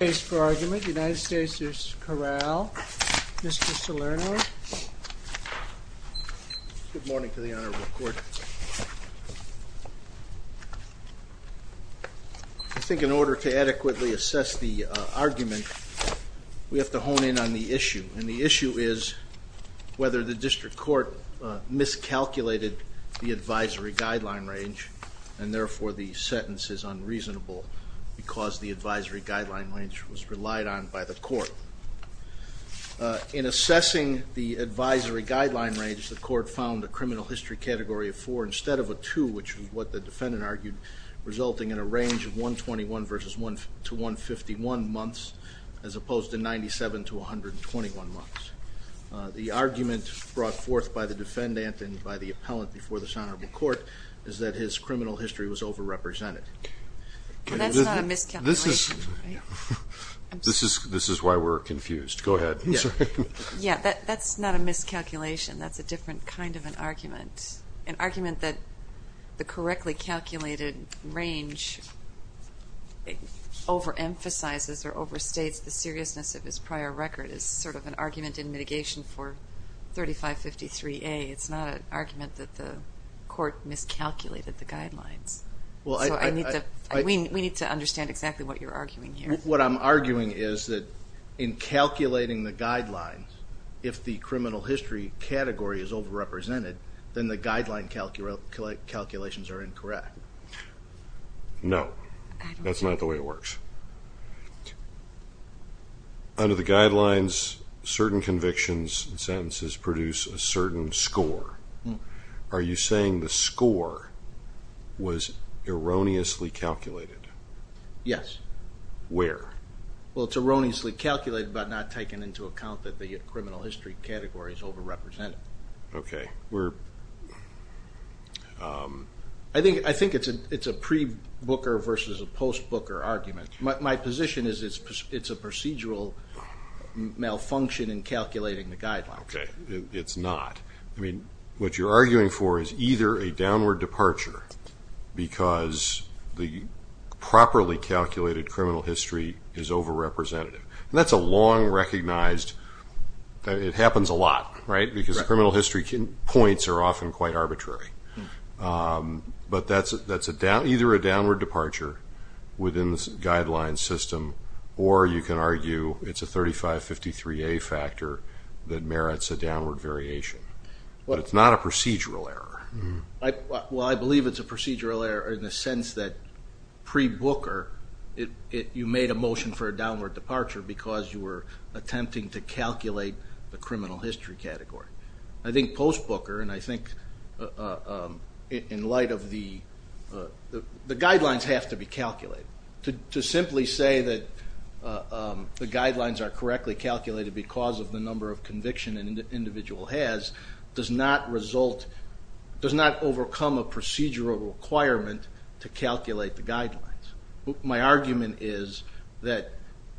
United States v. Corral, Mr. Salerno. Good morning to the Honorable Court. I think in order to adequately assess the argument, we have to hone in on the issue. And the issue is whether the district court miscalculated the advisory guideline range, and therefore the sentence is unreasonable because the advisory guideline range was relied on by the court. In assessing the advisory guideline range, the court found a criminal history category of 4 instead of a 2, which is what the defendant argued, resulting in a range of 121 to 151 months, as opposed to 97 to 121 months. The argument brought forth by the defendant and by the appellant before this Honorable Court is that his criminal history was overrepresented. That's not a miscalculation, right? This is why we're confused. Go ahead. Yeah, that's not a miscalculation. That's a different kind of an argument, an argument that the correctly calculated range over-emphasizes or over-states the seriousness of his prior record which is sort of an argument in mitigation for 3553A. It's not an argument that the court miscalculated the guidelines. We need to understand exactly what you're arguing here. What I'm arguing is that in calculating the guidelines, if the criminal history category is overrepresented, then the guideline calculations are incorrect. No, that's not the way it works. Under the guidelines, certain convictions and sentences produce a certain score. Are you saying the score was erroneously calculated? Yes. Where? Well, it's erroneously calculated but not taken into account that the criminal history category is overrepresented. Okay. I think it's a pre-Booker versus a post-Booker argument. My position is it's a procedural malfunction in calculating the guidelines. Okay. It's not. What you're arguing for is either a downward departure because the properly calculated criminal history is overrepresentative. That's a long recognized, it happens a lot, right, because criminal history points are often quite arbitrary. But that's either a downward departure within the guideline system or you can argue it's a 3553A factor that merits a downward variation. But it's not a procedural error. Well, I believe it's a procedural error in the sense that pre-Booker, you made a motion for a downward departure because you were attempting to calculate the criminal history category. I think post-Booker, and I think in light of the guidelines have to be calculated. To simply say that the guidelines are correctly calculated because of the number of conviction an individual has does not overcome a procedural requirement to calculate the guidelines. My argument is that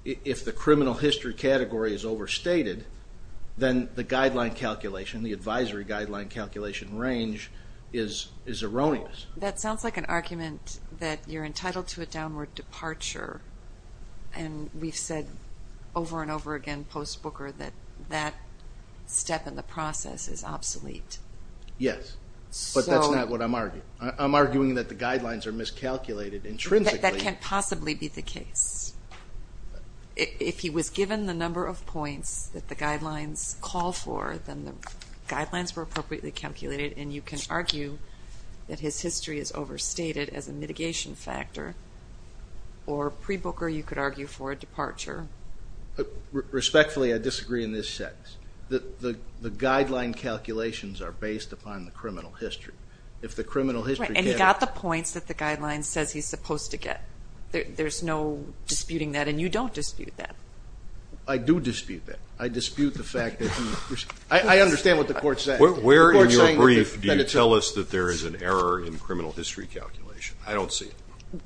if the criminal history category is overstated, then the guideline calculation, the advisory guideline calculation range is erroneous. That sounds like an argument that you're entitled to a downward departure. And we've said over and over again post-Booker that that step in the process is obsolete. Yes, but that's not what I'm arguing. I'm arguing that the guidelines are miscalculated intrinsically. That can't possibly be the case. If he was given the number of points that the guidelines call for, then the guidelines were appropriately calculated, and you can argue that his history is overstated as a mitigation factor. Or pre-Booker, you could argue for a departure. Respectfully, I disagree in this sense. The guideline calculations are based upon the criminal history. If the criminal history category – Right, and he got the points that the guidelines says he's supposed to get. There's no disputing that, and you don't dispute that. I do dispute that. I dispute the fact that he – I understand what the court's saying. Where in your brief do you tell us that there is an error in criminal history calculation? I don't see it.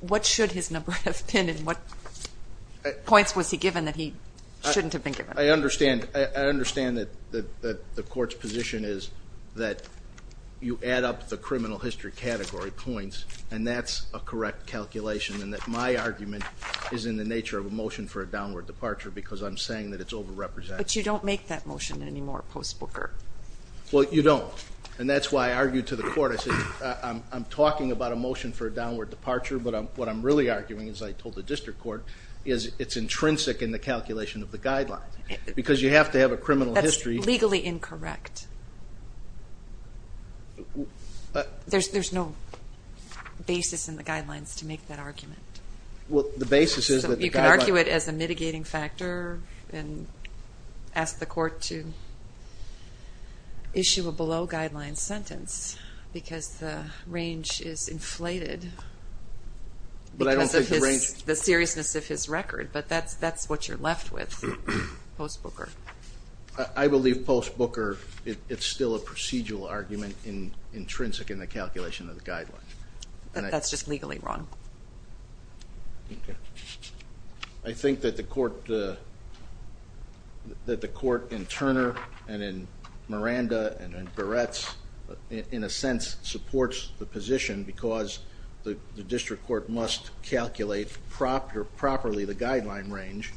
What should his number have been, and what points was he given that he shouldn't have been given? I understand that the court's position is that you add up the criminal history category points, and that's a correct calculation, and that my argument is in the nature of a motion for a downward departure because I'm saying that it's overrepresented. But you don't make that motion anymore post-Booker. Well, you don't, and that's why I argued to the court. I said, I'm talking about a motion for a downward departure, but what I'm really arguing, as I told the district court, is it's intrinsic in the calculation of the guidelines because you have to have a criminal history – That's legally incorrect. There's no basis in the guidelines to make that argument. Well, the basis is that – issue a below-guidelines sentence because the range is inflated. But I don't think the range – Because of the seriousness of his record, but that's what you're left with post-Booker. I believe post-Booker, it's still a procedural argument intrinsic in the calculation of the guidelines. That's just legally wrong. Okay. I think that the court in Turner and in Miranda and in Barretts, in a sense, supports the position because the district court must calculate properly the guideline range,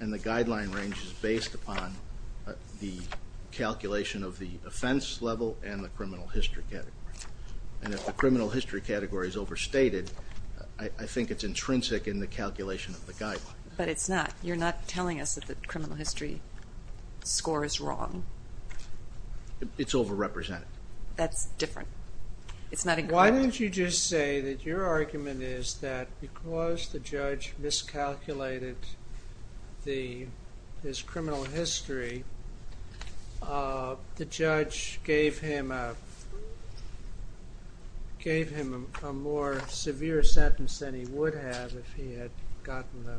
and the guideline range is based upon the calculation of the offense level and the criminal history category. And if the criminal history category is overstated, I think it's intrinsic in the calculation of the guidelines. But it's not. You're not telling us that the criminal history score is wrong. It's overrepresented. That's different. It's not incorrect. Why don't you just say that your argument is that because the judge miscalculated his criminal history, the judge gave him a more severe sentence than he would have if he had gotten the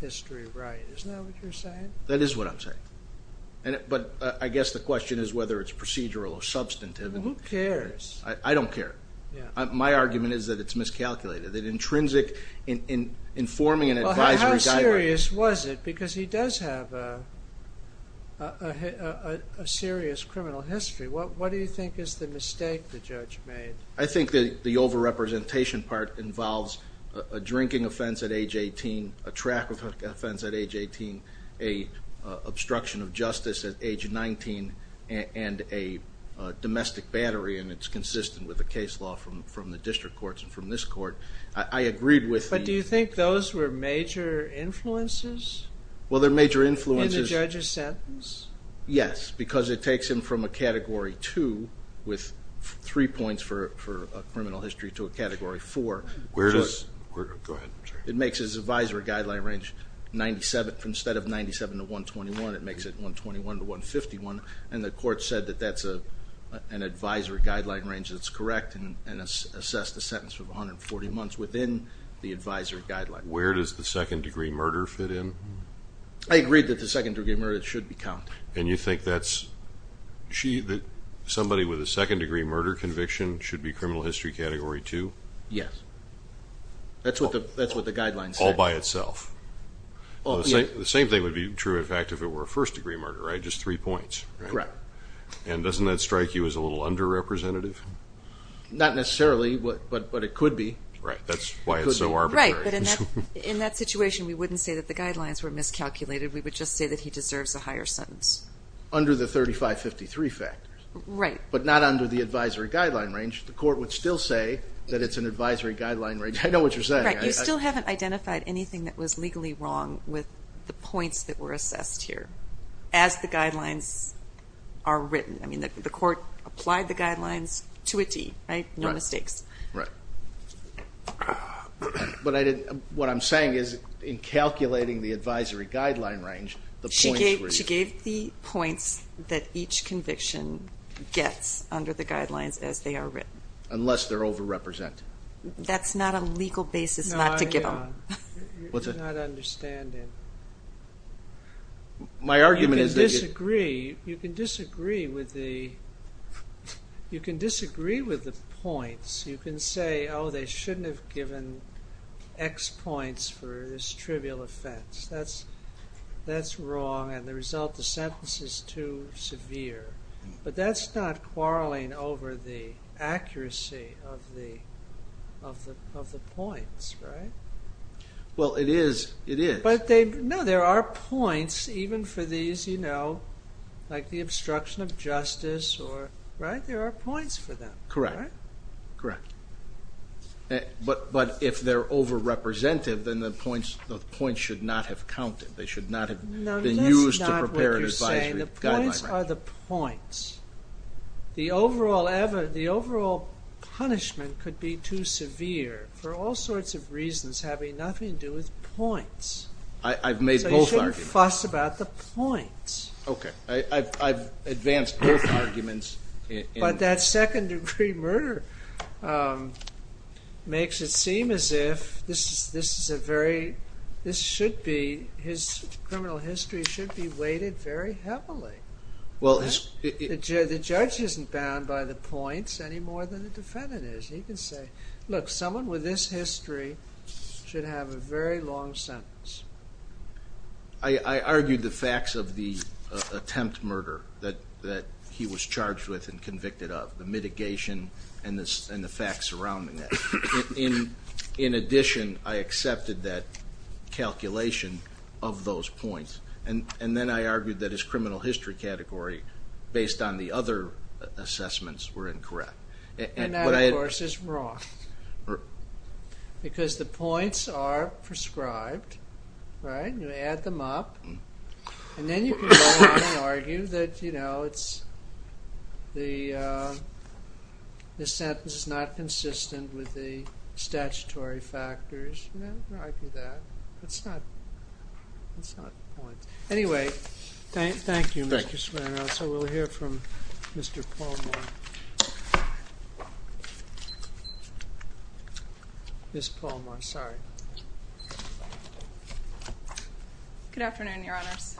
history right. Isn't that what you're saying? That is what I'm saying. But I guess the question is whether it's procedural or substantive. Well, who cares? I don't care. My argument is that it's miscalculated, that intrinsic in forming an advisory guideline. How serious was it? Because he does have a serious criminal history. What do you think is the mistake the judge made? I think the overrepresentation part involves a drinking offense at age 18, a track offense at age 18, an obstruction of justice at age 19, and a domestic battery, and it's consistent with the case law from the district courts and from this court. But do you think those were major influences? Well, they're major influences. In the judge's sentence? Yes, because it takes him from a Category 2 with three points for criminal history to a Category 4. Go ahead. It makes his advisory guideline range 97. Instead of 97 to 121, it makes it 121 to 151, and the court said that that's an advisory guideline range that's correct and assessed the sentence for 140 months within the advisory guideline. Where does the second-degree murder fit in? I agree that the second-degree murder should be counted. And you think that somebody with a second-degree murder conviction should be criminal history Category 2? Yes. That's what the guidelines say. All by itself. The same thing would be true, in fact, if it were a first-degree murder, right, just three points? Correct. And doesn't that strike you as a little underrepresentative? Not necessarily, but it could be. Right. That's why it's so arbitrary. Right. But in that situation, we wouldn't say that the guidelines were miscalculated. We would just say that he deserves a higher sentence. Under the 3553 factors. Right. But not under the advisory guideline range. The court would still say that it's an advisory guideline range. I know what you're saying. Right. You still haven't identified anything that was legally wrong with the points that were assessed here as the guidelines are written. I mean, the court applied the guidelines to a T, right? Right. No mistakes. Right. What I'm saying is, in calculating the advisory guideline range, the points were used. She gave the points that each conviction gets under the guidelines as they are written. Unless they're overrepresented. That's not a legal basis not to give them. No, I know. What's that? You're not understanding. My argument is. You can disagree with the points. You can say, oh, they shouldn't have given X points for this trivial offense. That's wrong. And the result, the sentence is too severe. But that's not quarreling over the accuracy of the points, right? Well, it is. It is. No, there are points even for these, you know, like the obstruction of justice. Right? There are points for them. Correct. Correct. But if they're overrepresented, then the points should not have counted. They should not have been used to prepare an advisory guideline. No, that's not what you're saying. The points are the points. The overall punishment could be too severe for all sorts of reasons having nothing to do with points. I've made both arguments. So you shouldn't fuss about the points. Okay. I've advanced both arguments. But that second-degree murder makes it seem as if this is a very, this should be, his criminal history should be weighted very heavily. The judge isn't bound by the points any more than the defendant is. He can say, look, someone with this history should have a very long sentence. I argued the facts of the attempt murder that he was charged with and convicted of, the mitigation and the facts surrounding that. In addition, I accepted that calculation of those points. And then I argued that his criminal history category, based on the other assessments, were incorrect. And that, of course, is wrong. Because the points are prescribed, right? You add them up. And then you can go on and argue that, you know, it's the sentence is not consistent with the statutory factors. You know, argue that. It's not points. Anyway, thank you, Mr. Smirnoff. So we'll hear from Mr. Palmore. Ms. Palmore, sorry. Good afternoon, Your Honors.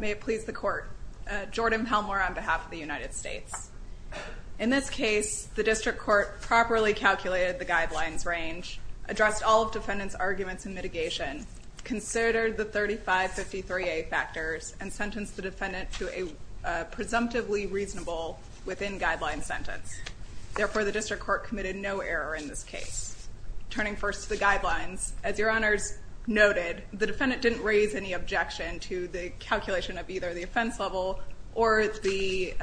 May it please the Court. Jordan Palmore on behalf of the United States. In this case, the district court properly calculated the guidelines range, addressed all of defendant's arguments and mitigation, considered the 3553A factors, and sentenced the defendant to a presumptively reasonable within guideline sentence. Therefore, the district court committed no error in this case. Turning first to the guidelines, as Your Honors noted, the defendant didn't raise any objection to the calculation of either the offense level or the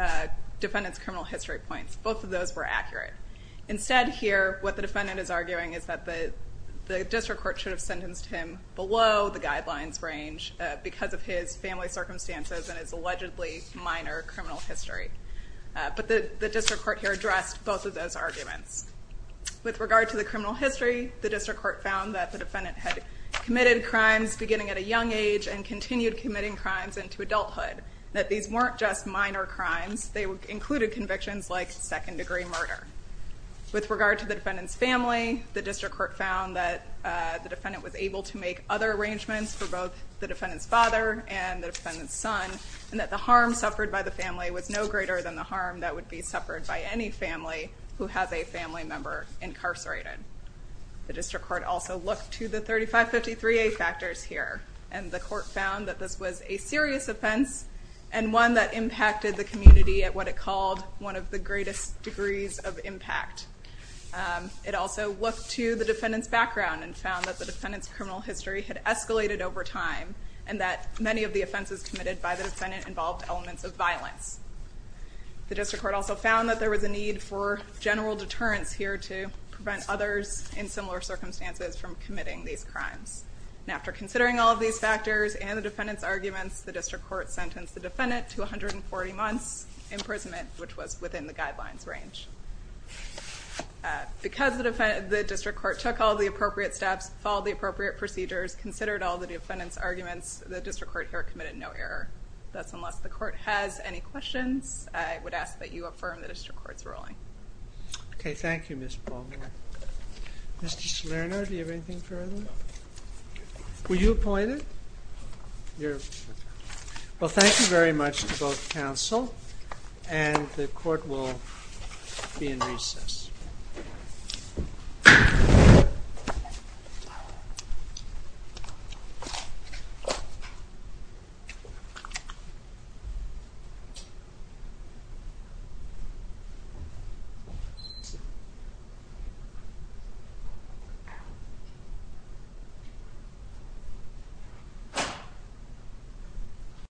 defendant's criminal history points. Both of those were accurate. Instead, here, what the defendant is arguing is that the district court should have sentenced him below the guidelines range because of his family circumstances and his allegedly minor criminal history. But the district court here addressed both of those arguments. With regard to the criminal history, the district court found that the defendant had committed crimes beginning at a young age and continued committing crimes into adulthood, that these weren't just minor crimes. They included convictions like second-degree murder. With regard to the defendant's family, the district court found that the defendant was able to make other arrangements for both the defendant's father and the defendant's son, and that the harm suffered by the family was no greater than the harm that would be suffered by any family who has a family member incarcerated. The district court also looked to the 3553A factors here, and the court found that this was a serious offense and one that impacted the community at what it called one of the greatest degrees of impact. It also looked to the defendant's background and found that the defendant's criminal history had escalated over time and that many of the offenses committed by the defendant involved elements of violence. The district court also found that there was a need for general deterrence here to prevent others in similar circumstances from committing these crimes. After considering all of these factors and the defendant's arguments, the district court sentenced the defendant to 140 months' imprisonment, which was within the guidelines range. Because the district court took all of the appropriate steps, followed the appropriate procedures, considered all of the defendant's arguments, the district court here committed no error. Thus, unless the court has any questions, I would ask that you affirm the district court's ruling. Okay, thank you, Ms. Palmer. Mr. Salerno, do you have anything further? Were you appointed? Well, thank you very much to both counsel, and the court will be in recess. Thank you.